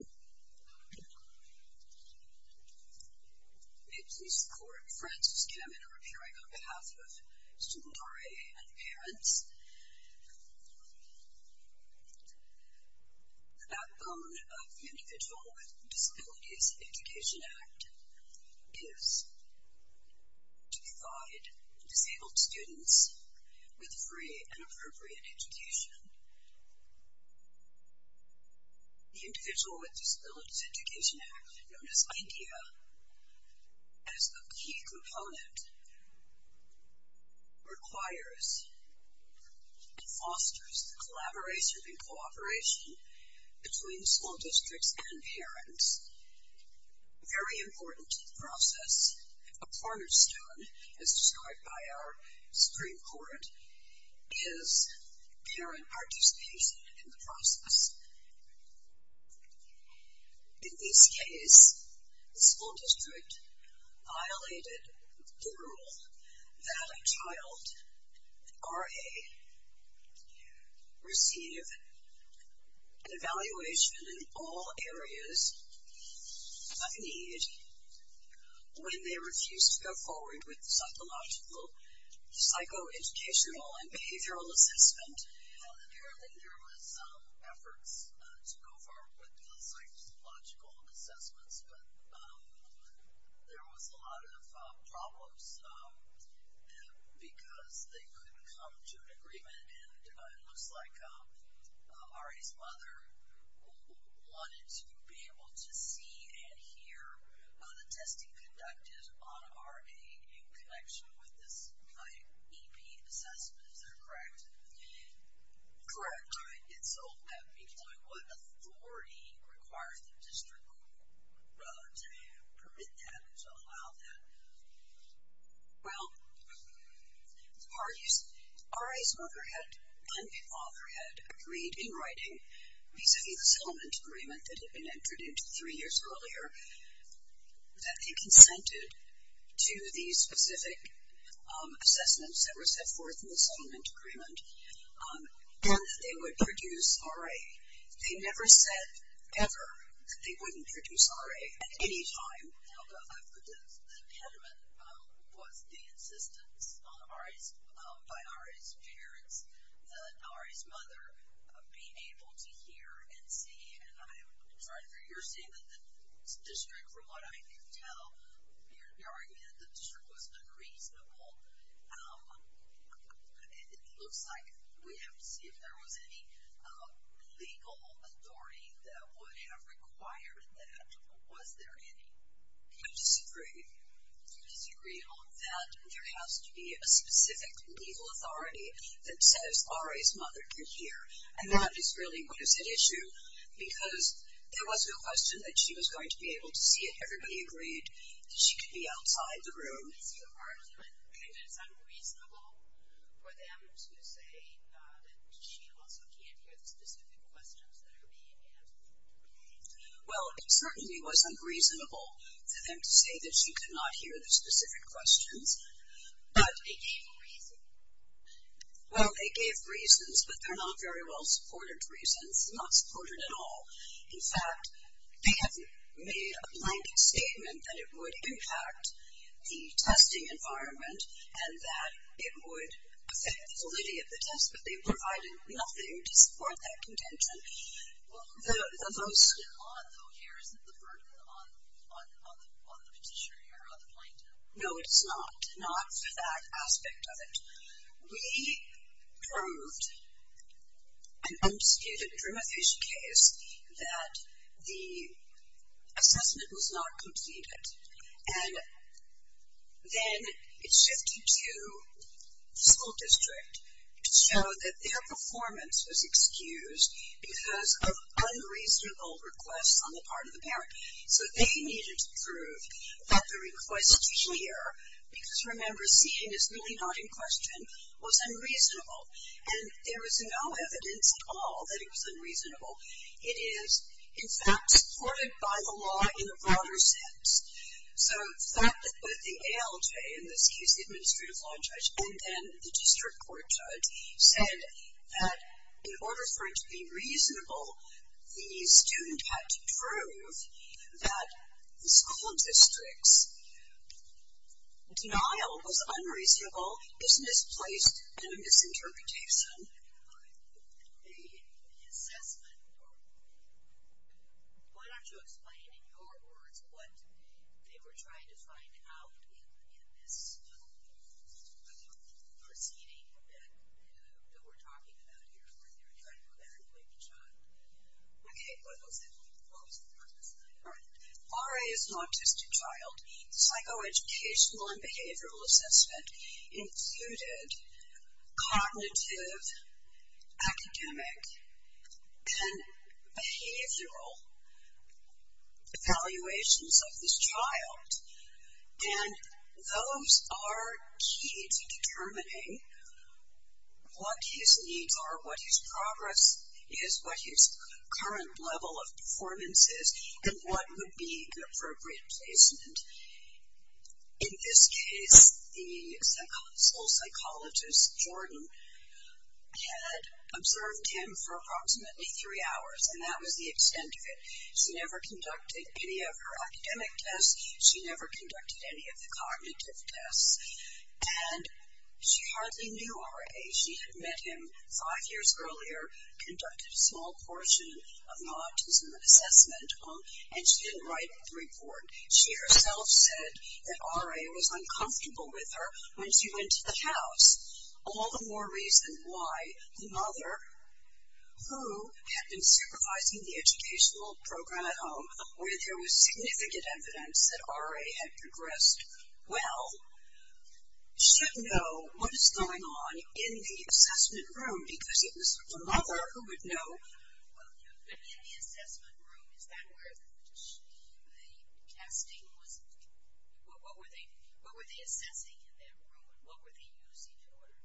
May it please the Court, Frances Kamen are appearing on behalf of Student R.A. and Parents. The backbone of the Individual with Disabilities Education Act is to provide disabled students with free and appropriate education. The Individual with Disabilities Education Act, known as IDEA, as a key component, requires and fosters the collaboration and cooperation between school districts and parents. Very important to the process, a cornerstone, as described by our Supreme Court, is parent participation in the process. In this case, the school district violated the rule that a child, R.A., receive an evaluation in all areas of need when they refused to go forward with a psychological, psychoeducational, and behavioral assessment. Apparently, there was some efforts to go forward with the psychological assessments, but there was a lot of problems because they couldn't come to an agreement, and it looks like R.A.'s mother wanted to be able to see and hear the testing conducted on R.A. in connection with this E.P. assessment, is that correct? Correct. What authority requires the district to permit that, to allow that? Well, R.A.'s mother and father had agreed in writing, vis-a-vis the settlement agreement that had been entered into three years earlier, that they consented to the specific assessments that were set forth in the settlement agreement, and that they would produce R.A. They never said, ever, that they wouldn't produce R.A. at any time. The impediment was the insistence by R.A.'s parents that R.A.'s mother be able to hear and see, and I'm sorry, you're saying that the district, from what I can tell, you're arguing that the district was unreasonable. It looks like we have to see if there was any legal authority that would have required that, or was there any? I disagree. I disagree that there has to be a specific legal authority that says R.A.'s mother can hear, and that is really what is at issue, because there was no question that she was going to be able to see it. Everybody agreed that she could be outside the room. Is your argument that it's unreasonable for them to say that she also can't hear the specific questions that are being asked? Well, it certainly was unreasonable for them to say that she could not hear the specific questions. But they gave reasons. Well, they gave reasons, but they're not very well-supported reasons, not supported at all. In fact, they have made a blanket statement that it would impact the testing environment and that it would affect the validity of the test, but they provided nothing to support that contention. Well, the vote's still on, though, here. Isn't the verdict on the petitioner here, on the plaintiff? No, it's not, not for that aspect of it. We proved an unskated adremophage case that the assessment was not completed, and then it shifted to the school district to show that their performance was excused because of unreasonable requests on the part of the parent. So they needed to prove that the request here, because, remember, seeing is really not in question, was unreasonable. And there was no evidence at all that it was unreasonable. It is, in fact, supported by the law in a broader sense. So the fact that both the ALJ, in this case the Administrative Law Judge, and then the District Court Judge said that in order for it to be reasonable, the student had to prove that the school district's denial was unreasonable is misplaced in a misinterpretation. The assessment, well, why don't you explain in your words what they were trying to find out in this little proceeding that we're talking about here, when they were trying to clarify the child. Okay, what was the purpose of that? RA is an autistic child. Psychoeducational and behavioral assessment included cognitive, academic, and behavioral evaluations of this child. And those are key to determining what his needs are, what his progress is, what his current level of performance is, and what would be an appropriate placement. In this case, the school psychologist, Jordan, had observed him for approximately three hours, and that was the extent of it. She never conducted any of her academic tests. She never conducted any of the cognitive tests. And she hardly knew RA. She had met him five years earlier, conducted a small portion of the autism assessment, and she didn't write the report. She herself said that RA was uncomfortable with her when she went to the house. All the more reason why the mother, who had been supervising the educational program at home, where there was significant evidence that RA had progressed well, should know what is going on in the assessment room because it was the mother who would know. But in the assessment room, is that where the casting was? What were they assessing in that room? What were they using in order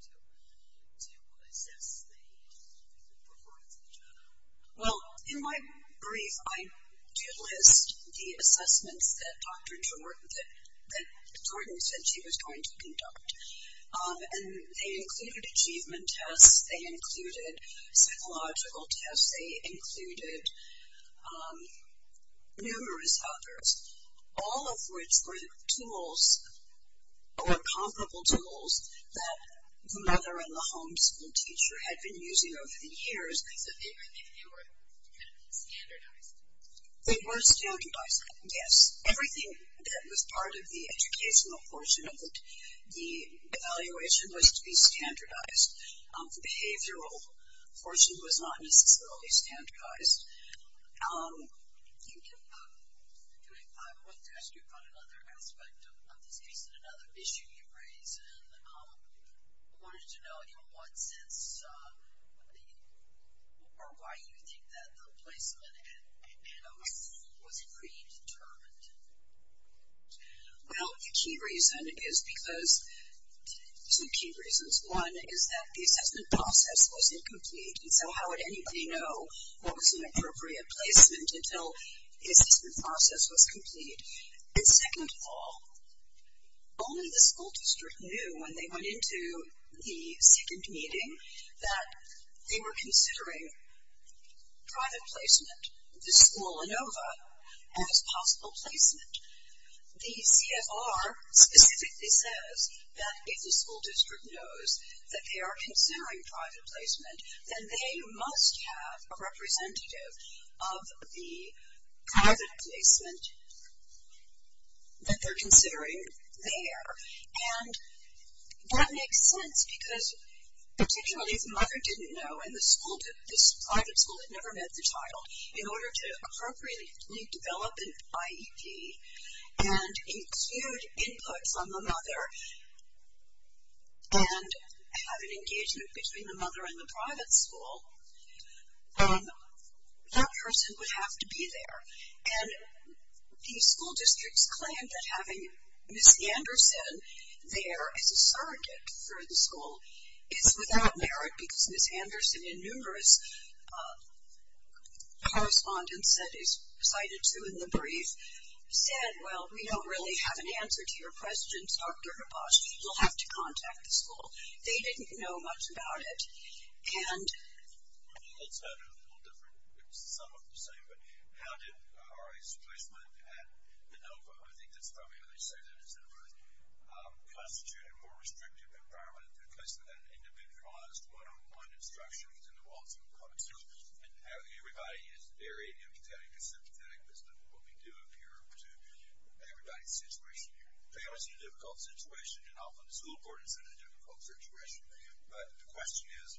to assess the performance of the child? Well, in my brief, I do list the assessments that Jordan said she was going to conduct. And they included achievement tests. They included psychological tests. They included numerous others, all of which were tools or comparable tools that the mother and the home school teacher had been using over the years. So they were standardized? They were standardized, yes. Everything that was part of the educational portion of the evaluation was to be standardized. The behavioral portion was not necessarily standardized. I wanted to ask you about another aspect of this case and another issue you raised. And I wanted to know in what sense or why you think that the placement was predetermined. Well, the key reason is because of two key reasons. One is that the assessment process was incomplete, and so how would anybody know what was an appropriate placement until the assessment process was complete? And second of all, only the school district knew when they went into the second meeting that they were considering private placement, the school ANOVA, as possible placement. The CFR specifically says that if the school district knows that they are considering private placement, then they must have a representative of the private placement that they're considering there. And that makes sense because particularly if the mother didn't know and this private school had never met the child, in order to appropriately develop an IEP and include inputs on the mother and have an engagement between the mother and the private school, that person would have to be there. And the school districts claimed that having Ms. Anderson there as a surrogate for the school is without merit because Ms. Anderson, in numerous correspondence that is cited to in the brief, said, well, we don't really have an answer to your questions, Dr. Habash. You'll have to contact the school. They didn't know much about it. And... It's a little different. It's somewhat the same, but how did RA's placement at ANOVA, I think that's probably how they say that it's in a more constituted, more restrictive environment, than the placement at an individualized one-on-one instruction within the walls of a public school. And everybody is very empathetic or sympathetic as to what we do up here to everybody's situation. Families are in a difficult situation, and often the school board is in a difficult situation. But the question is,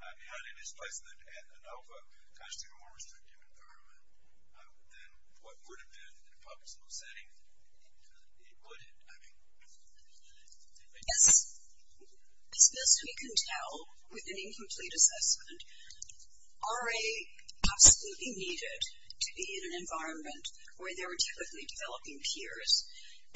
having this placement at ANOVA, it's actually a more restrictive environment than what would have been in a public school setting. It wouldn't. As best we can tell, with an incomplete assessment, RA absolutely needed to be in an environment where they were typically developing peers.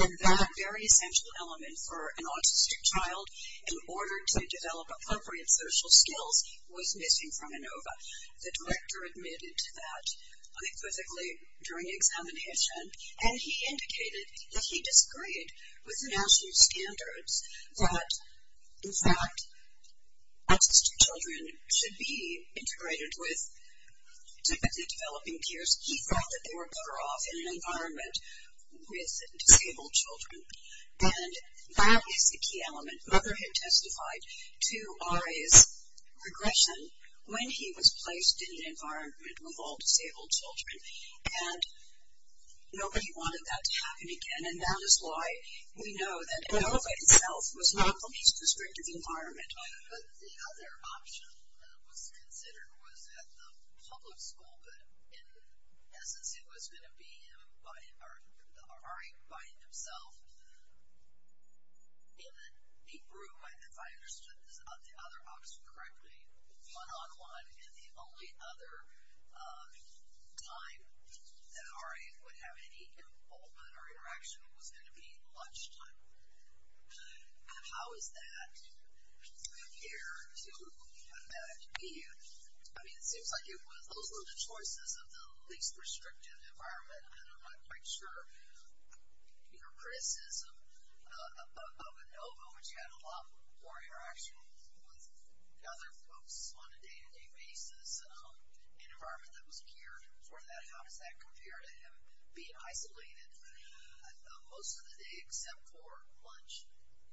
And that very essential element for an autistic child, in order to develop appropriate social skills, was missing from ANOVA. The director admitted to that unequivocally during examination, and he indicated that he disagreed with the national standards that, in fact, autistic children should be integrated with typically developing peers. He thought that they were better off in an environment with disabled children. And that is the key element. Mother had testified to RA's regression when he was placed in an environment with all disabled children. And nobody wanted that to happen again. And that is why we know that ANOVA itself was not the least restrictive environment. But the other option that was considered was at the public school, but in essence it was going to be RA by himself in a neat room, if I understood the other option correctly, one-on-one, and the only other time that RA would have any involvement or interaction was going to be lunchtime. And how is that compared to what we had at BU? I mean, it seems like those were the choices of the least restrictive environment, and I'm not quite sure your criticism of ANOVA, but you had a lot more interaction with other folks on a day-to-day basis, an environment that was geared for that. How does that compare to him being isolated most of the day except for lunch?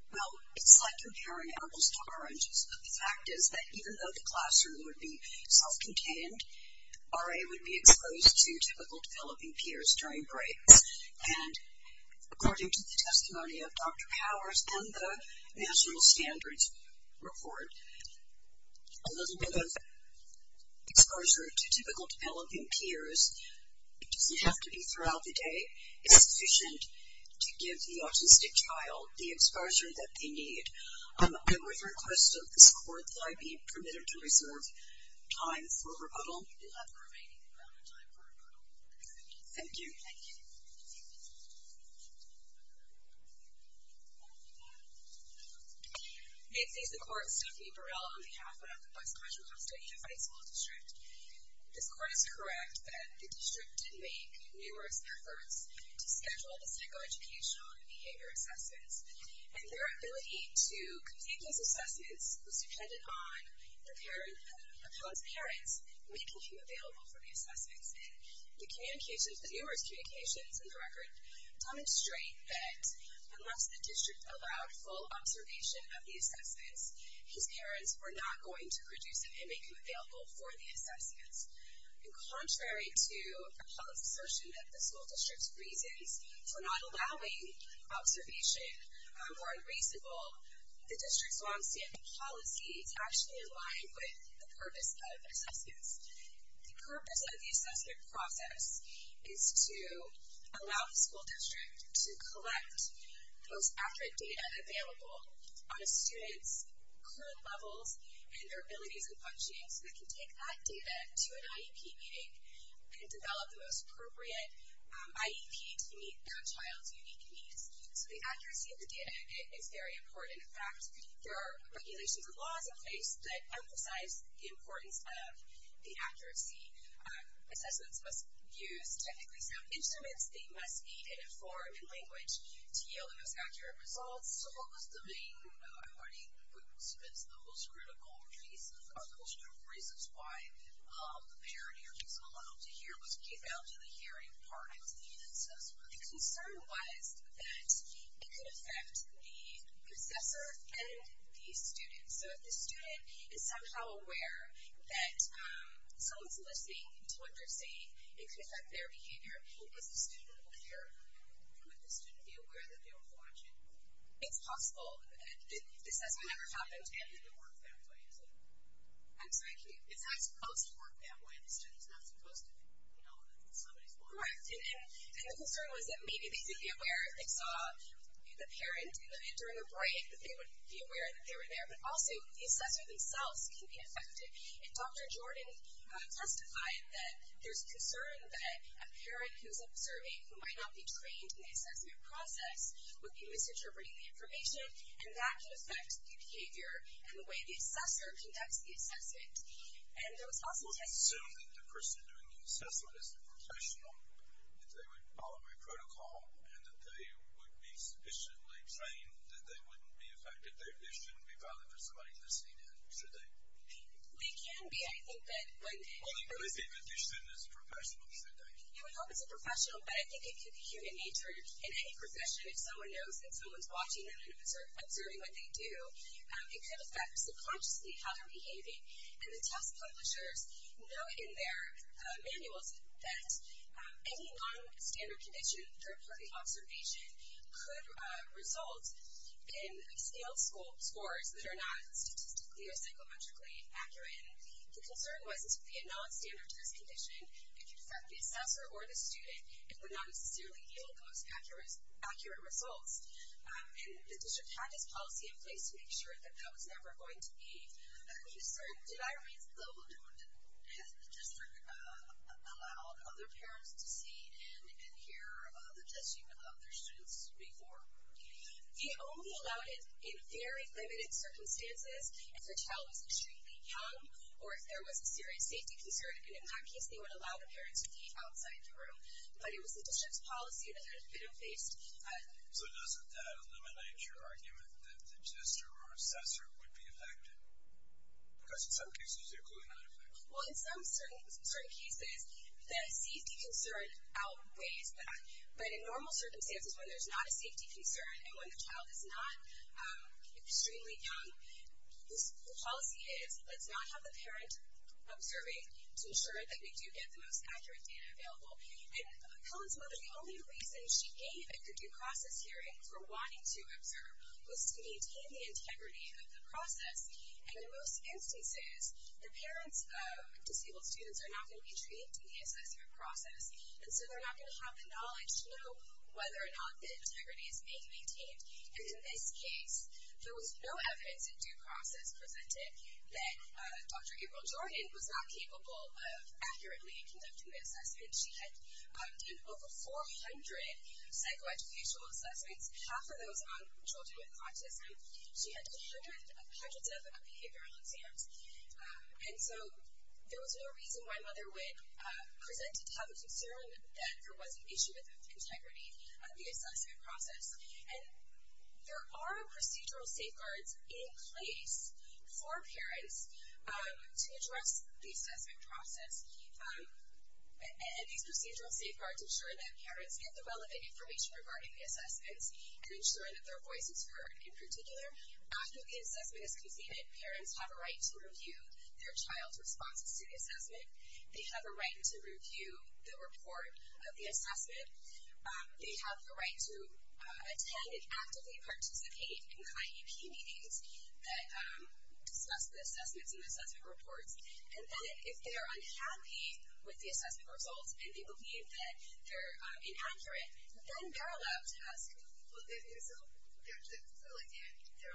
Well, it's like comparing apples to oranges, but the fact is that even though the classroom would be self-contained, RA would be exposed to typical developing peers during breaks. And according to the testimony of Dr. Powers and the National Standards Report, a little bit of exposure to typical developing peers doesn't have to be throughout the day. It's sufficient to give the autistic child the exposure that they need. I'm with request of this Court that I be permitted to reserve time for rebuttal. You have the remaining amount of time for rebuttal. Thank you. Thank you. May it please the Court, Stephanie Burrell on behalf of the Vice-Commissioner of Study in the High School District. This Court is correct that the district did make numerous efforts to schedule the psychoeducational and behavior assessments, and their ability to complete those assessments was dependent on preparing a parent's parents, making him available for the assessments. And the communications, the numerous communications in the record, demonstrate that unless the district allowed full observation of the assessments, his parents were not going to produce him and make him available for the assessments. And contrary to the public's assertion that the school district's reasons for not allowing observation were unreasonable, the district's longstanding policy is actually in line with the purpose of assessments. The purpose of the assessment process is to allow the school district to collect the most accurate data available on a student's current levels and their abilities and functioning so they can take that data to an IEP meeting and develop the most appropriate IEP to meet that child's unique needs. So the accuracy of the data is very important. In fact, there are regulations and laws in place that emphasize the importance of the accuracy. Assessments must use technically sound instruments. They must be in a form and language to yield the most accurate results. So what was the main, according to the participants, the most critical reasons, or the most critical reasons, why the mayor and your counsel allowed them to hear was due to the hearing part of the assessment? The concern was that it could affect the professor and the student. So if the student is somehow aware that someone's listening to what they're saying, it could affect their behavior. If the student were here, would the student be aware that they were watching? It's possible. This has never happened. And then it worked that way. I'm sorry, can you? It's not supposed to work that way. The student's not supposed to know that somebody's watching. Correct. And the concern was that maybe they would be aware if they saw the parent during a break, that they would be aware that they were there. But also, the assessor themselves can be affected. And Dr. Jordan testified that there's concern that a parent who's observing who might not be trained in the assessment process would be misinterpreting the information, and that could affect the behavior and the way the assessor conducts the assessment. I would assume that the person doing the assessment is a professional, that they would follow a protocol, and that they would be sufficiently trained that they wouldn't be affected. They shouldn't be valid for somebody listening in, should they? They can be. I think that when they listen. Well, I think that the student is a professional, should they? Yeah, we know it's a professional, but I think it could be human nature. In any profession, if someone knows that someone's watching them and observing what they do, it could affect subconsciously how they're behaving. And the test publishers know in their manuals that any non-standard condition, third-party observation, could result in scale scores that are not statistically or psychometrically accurate. And the concern was it would be a non-standard test condition. It could affect the assessor or the student and would not necessarily yield the most accurate results. And the district had this policy in place to make sure that that was never going to be Did I read the whole document? Has the district allowed other parents to see and hear the testimony of their students before? They only allowed it in very limited circumstances. If the child was extremely young or if there was a serious safety concern. And in that case, they would allow the parent to be outside the room. But it was the district's policy that had been in place. So doesn't that eliminate your argument that the tester or assessor would be affected? Because in some cases, they're clearly not affected. Well, in some certain cases, the safety concern outweighs that. But in normal circumstances, when there's not a safety concern and when the child is not extremely young, the policy is let's not have the parent observing to ensure that we do get the most accurate data available. And Helen's mother, the only reason she gave at the due process hearing for wanting to observe was to maintain the integrity of the process. And in most instances, the parents of disabled students are not going to be treated in the assessment process. And so they're not going to have the knowledge to know whether or not the integrity is being maintained. And in this case, there was no evidence in due process presented that Dr. April Jordan was not capable of accurately conducting the assessment. She had done over 400 psychoeducational assessments, half of those on children with autism. She had done hundreds of behavioral exams. And so there was no reason why Mother Wynne presented to have a concern that there was an issue with the integrity of the assessment process. And there are procedural safeguards in place for parents to address the assessment process. And these procedural safeguards ensure that parents get the relevant information regarding the assessments and ensure that their voice is heard. In particular, after the assessment is conceded, parents have a right to review their child's responses to the assessment. They have a right to review the report of the assessment. They have the right to attend and actively participate in the IEP meetings that discuss the assessments and assessment reports. And then if they're unhappy with the assessment results and they believe that they're inaccurate, then they're allowed to ask. Well, there are a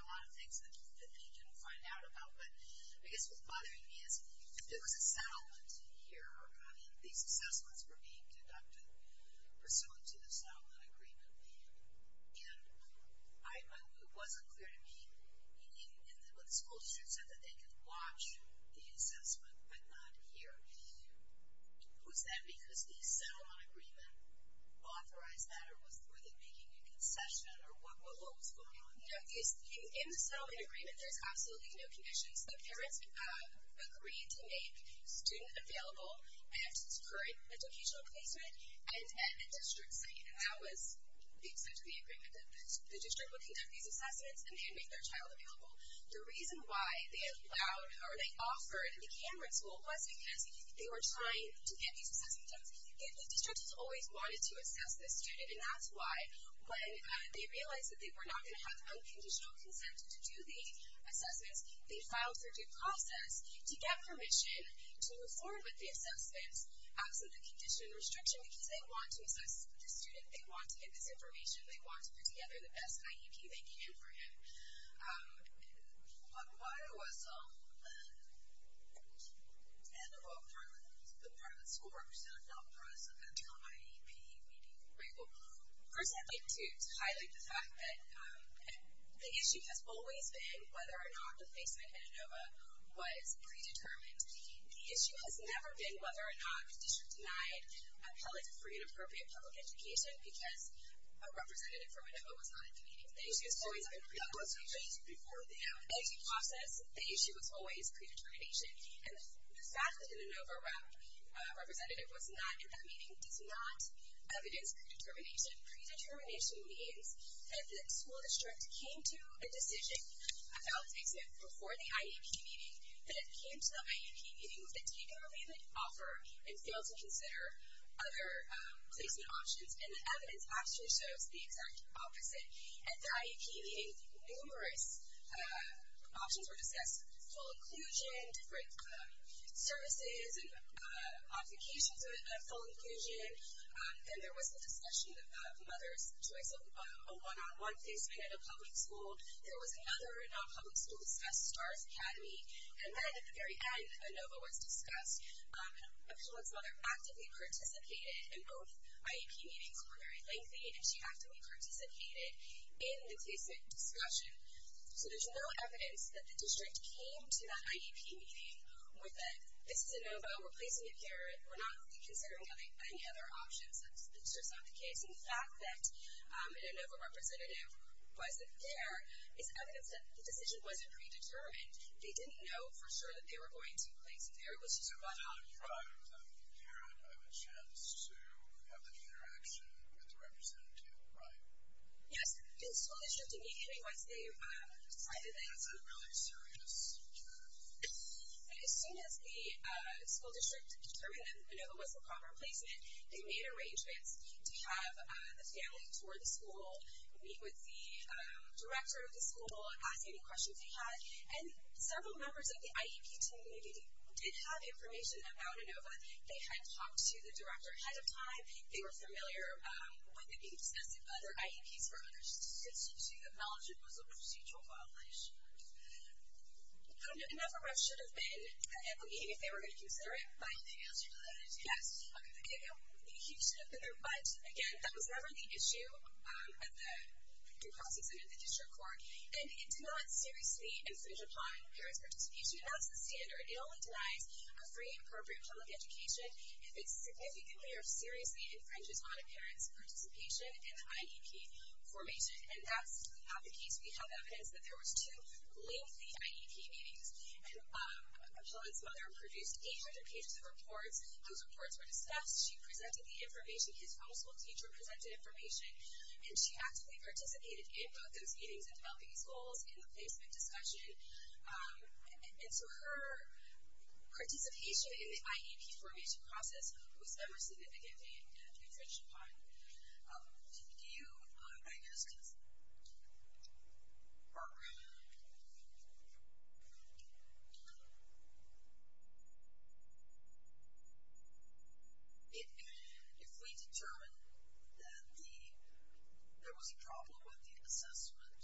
lot of things that they can find out about. But I guess what's bothering me is there was a settlement here. These assessments were being conducted pursuant to the settlement agreement. And it wasn't clear to me what the school district said, that they could watch the assessment but not hear. Was that because the settlement agreement authorized that? Or were they making a concession? Or what was going on? In the settlement agreement, there's absolutely no conditions. The parents agreed to make the student available at his current educational placement and at a district site. And that was the extent of the agreement, that the district would conduct these assessments and they would make their child available. The reason why they allowed or they offered the Cameron School was because they were trying to get these assessments done. The district has always wanted to assess the student, and that's why when they realized that they were not going to have unconditional consent to do the assessments, they filed for due process to get permission to move forward with the assessments And that's absolutely condition restriction because they want to assess the student. They want to get this information. They want to put together the best IEP they can for him. But why was the role of the private school representative not present at the IEP meeting? First, I'd like to highlight the fact that the issue has always been whether or not the placement at Inova was predetermined. The issue has never been whether or not the district denied an appellate for inappropriate public education because a representative from Inova was not at the meeting. The issue has always been predetermination. As you process, the issue is always predetermination. And the fact that an Inova representative was not at that meeting does not evidence predetermination. Predetermination means that the school district came to a decision about placement before the IEP meeting, that it came to the IEP meeting with a take-and-release offer and failed to consider other placement options. And the evidence actually shows the exact opposite. At the IEP meeting, numerous options were discussed, full inclusion, different services and applications of full inclusion. Then there was the discussion of mothers' choice of a one-on-one placement at a public school. There was another non-public school discussed, STARS Academy. And then at the very end, Inova was discussed. Appellate's mother actively participated, and both IEP meetings were very lengthy, and she actively participated in the placement discussion. So there's no evidence that the district came to that IEP meeting with a, this is Inova, we're placing it here, we're not really considering any other options. That's just not the case. The fact that an Inova representative wasn't there is evidence that the decision wasn't predetermined. They didn't know for sure that they were going to place it there. It was just one-on-one. There was no prior hearing of a chance to have any interaction with the representative, right? Yes. The school district immediately, once they decided that it's a- Was that really serious? As soon as the school district determined that Inova was the proper placement, they made arrangements to have the family tour the school, meet with the director of the school, ask any questions they had. And several members of the IEP team immediately did have information about Inova. They had talked to the director ahead of time. They were familiar with it being discussed at other IEPs for other students, so to acknowledge it was a procedural violation. Another ref should have been able to meet if they were going to consider it. Anything else you'd like to add? Yes. He should have been there, but, again, that was never the issue at the due process and at the district court, and it did not seriously infringe upon parents' participation. That's the standard. It only denies a free and appropriate public education if it significantly or seriously infringes on a parent's participation in the IEP formation, and that's not the case. We have evidence that there was two lengthy IEP meetings, and Helen's mother produced 800 pages of reports. Those reports were discussed. She presented the information. His home school teacher presented information, and she actively participated in both those meetings and developing his goals in the placement discussion, and so her participation in the IEP formation process was never significantly infringed upon. Do you, I guess, or... If we determine that there was a problem with the assessment,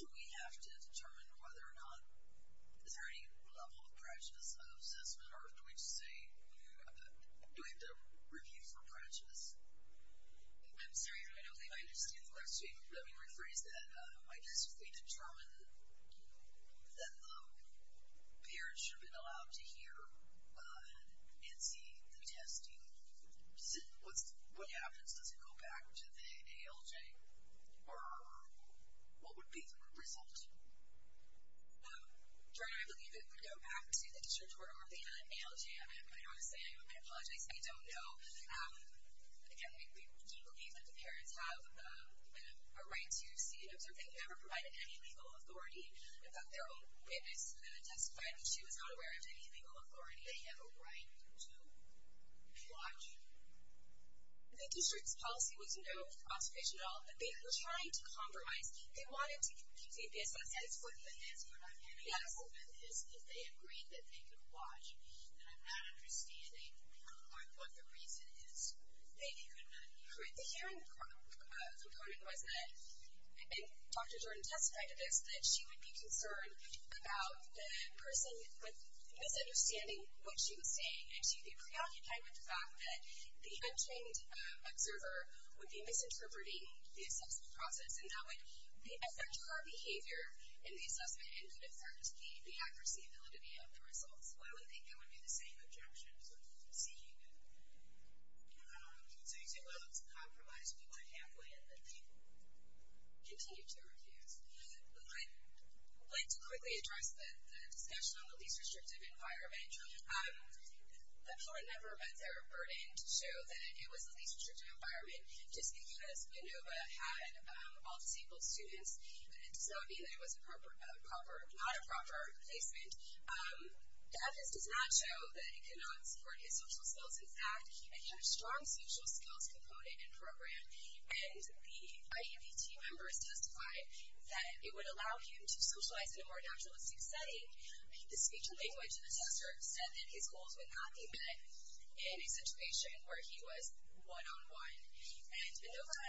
do we have to determine whether or not, is there any level of practice of assessment, or do we just say, do we have to review for practice? I'm sorry. I don't think I understand the question. Let me rephrase that. I guess if we determine that the parents should have been allowed to hear and see the testing, what happens? Does it go back to the ALJ, or what would be the result? Jordan, I believe it would go back to the district court, or if they had an ALJ. I'm going to have to say, I apologize if you don't know. Again, we believe that the parents have a right to see and observe. They never provided any legal authority. In fact, their own witness testified that she was not aware of any legal authority. They have a right to watch. The district's policy was no observation at all. They were trying to compromise. They wanted to complete the assessment. That's what the answer I'm getting. Yes. My hope is, if they agreed that they could watch, and I'm not understanding what the reason is, they could not hear. The hearing component was that, and Dr. Jordan testified to this, that she would be concerned about the person misunderstanding what she was saying, and she'd be preoccupied with the fact that the untrained observer would be misinterpreting the assessment process, and that would be essential behavior in the assessment and could affect the accuracy and validity of the results. Well, I would think that would be the same objection to seeing it. So you say, well, it's a compromise. People are halfway, and then they continue to refuse. I'd like to quickly address the discussion on the least restrictive environment. The parent never met their burden to show that it was the least restrictive environment, just because Lenova had all disabled students does not mean that it was not a proper placement. The evidence does not show that it could not support his social skills. In fact, he had a strong social skills component and program, and the IABT members testified that it would allow him to socialize in a more naturalistic setting. The speech and language assessor said that his goals would not be met in a situation where he was one-on-one. And Lenova,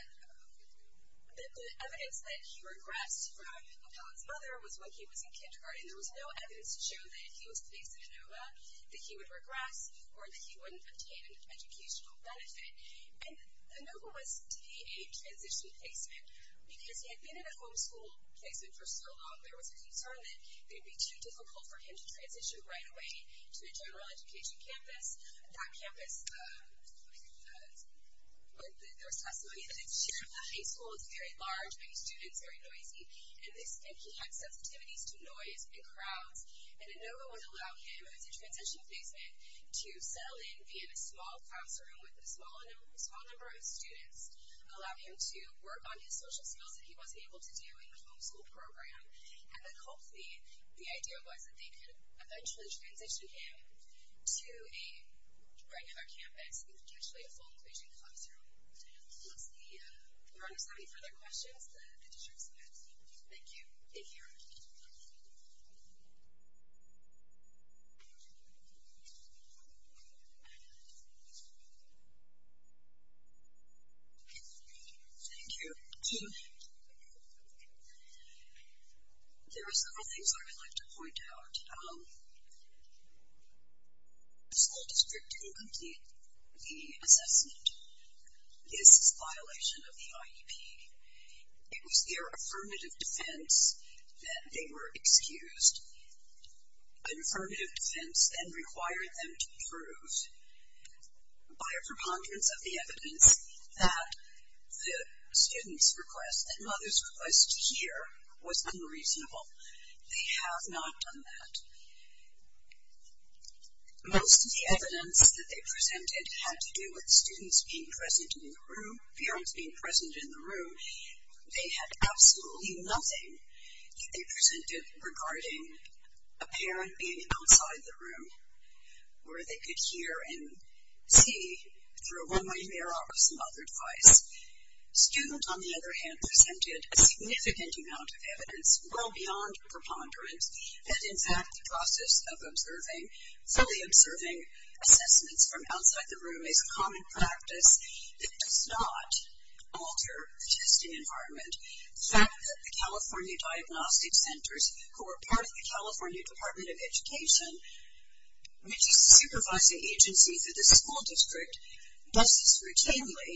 the evidence that he regressed from his mother was when he was in kindergarten. There was no evidence to show that if he was placed in Lenova, that he would regress or that he wouldn't obtain an educational benefit. And Lenova was to be a transition placement because he had been in a homeschool placement for so long, there was a concern that it would be too difficult for him to transition right away to a general education campus. That campus, there was testimony that its share of the high school is very large, many students, very noisy, and he had sensitivities to noise and crowds. And Lenova would allow him as a transition placement to settle in, be in a small classroom with a small number of students, allow him to work on his social skills that he wasn't able to do in the homeschool program. And then hopefully, the idea was that they could eventually transition him to a regular campus and potentially a full inclusion classroom. Let's see, if there aren't any further questions, the district's passed. Thank you. Thank you. Thank you. Thank you. There are several things I would like to point out. The school district didn't complete the assessment. This is a violation of the IEP. It was their affirmative defense that they were excused an affirmative defense and required them to approve by a preponderance of the evidence that the student's request and mother's request to hear was unreasonable. They have not done that. Most of the evidence that they presented had to do with students being present in the room, parents being present in the room. They had absolutely nothing that they presented regarding a parent being outside the room where they could hear and see through a one-way mirror or some other device. Students, on the other hand, presented a significant amount of evidence well beyond preponderance that, in fact, the process of observing, fully observing assessments from outside the room is a common practice that does not alter the testing environment. The fact that the California Diagnostic Centers, who are part of the California Department of Education, which is a supervising agency for the school district, does this routinely,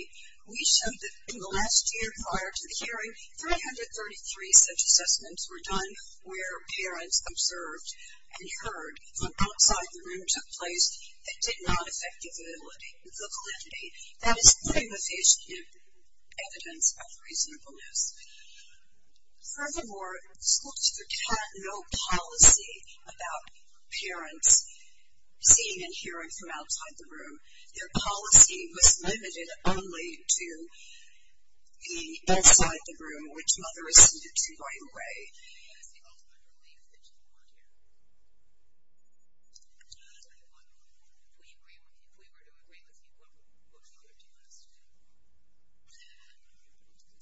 we showed that in the last year prior to the hearing, 333 such assessments were done where parents observed and heard from outside the room took place that did not affect the validity, the validity. That is pretty efficient evidence of reasonableness. Furthermore, the school district had no policy about parents seeing and hearing from outside the room. Their policy was limited only to the inside the room, which mothers needed to find a way. That is the ultimate relief that you want here. If we were to agree with you, what would you request?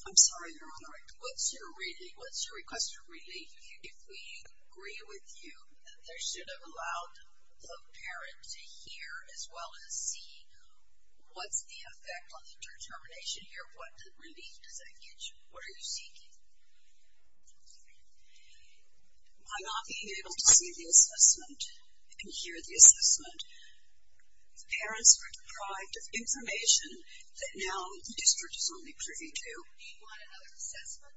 I'm sorry, Your Honor. What's your request for relief? If we agree with you that there should have allowed the parent to hear as well as see what's the effect on the determination here, what relief does that get you? What are you seeking? By not being able to see the assessment and hear the assessment. Parents were deprived of information that now the district is only privy to. Do you want another assessment?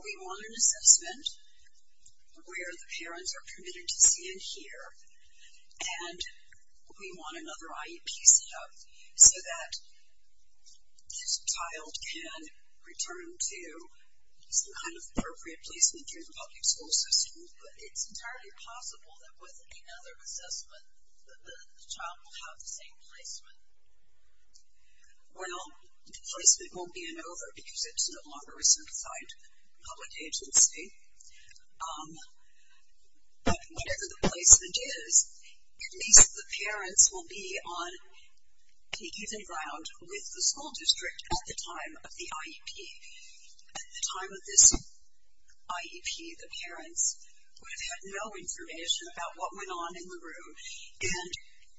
We want an assessment where the parents are permitted to see and hear, and we want another IEP set up so that this child can return to some kind of appropriate placement through the public school system. But it's entirely possible that with another assessment, the child will have the same placement. Well, the placement won't be an over because it's no longer a certified public agency. But whatever the placement is, at least the parents will be on even ground with the school district at the time of the IEP. At the time of this IEP, the parents would have had no information about what went on in the room. And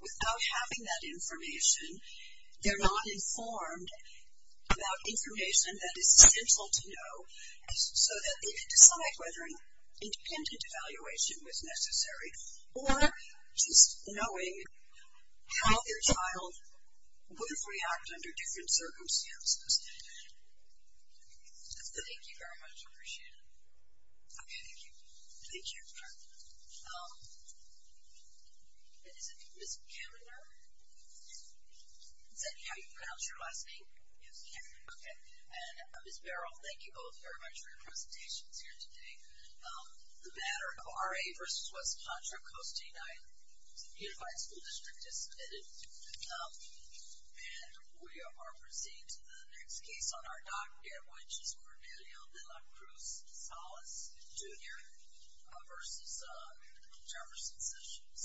without having that information, they're not informed about information that is essential to know so that they can decide whether an independent evaluation was necessary or just knowing how their child would react under different circumstances. Thank you very much. I appreciate it. Okay, thank you. Thank you. And is it Ms. Kaminer? Yes. Is that how you pronounce your last name? Yes. Okay. And Ms. Barrow, thank you both very much for your presentations here today. The matter of RA versus West Contra Costa United, the unified school district is submitted. And we are proceeding to the next case on our docket, which is Cornelio De La Cruz-Salas, Jr. versus Jefferson Sessions.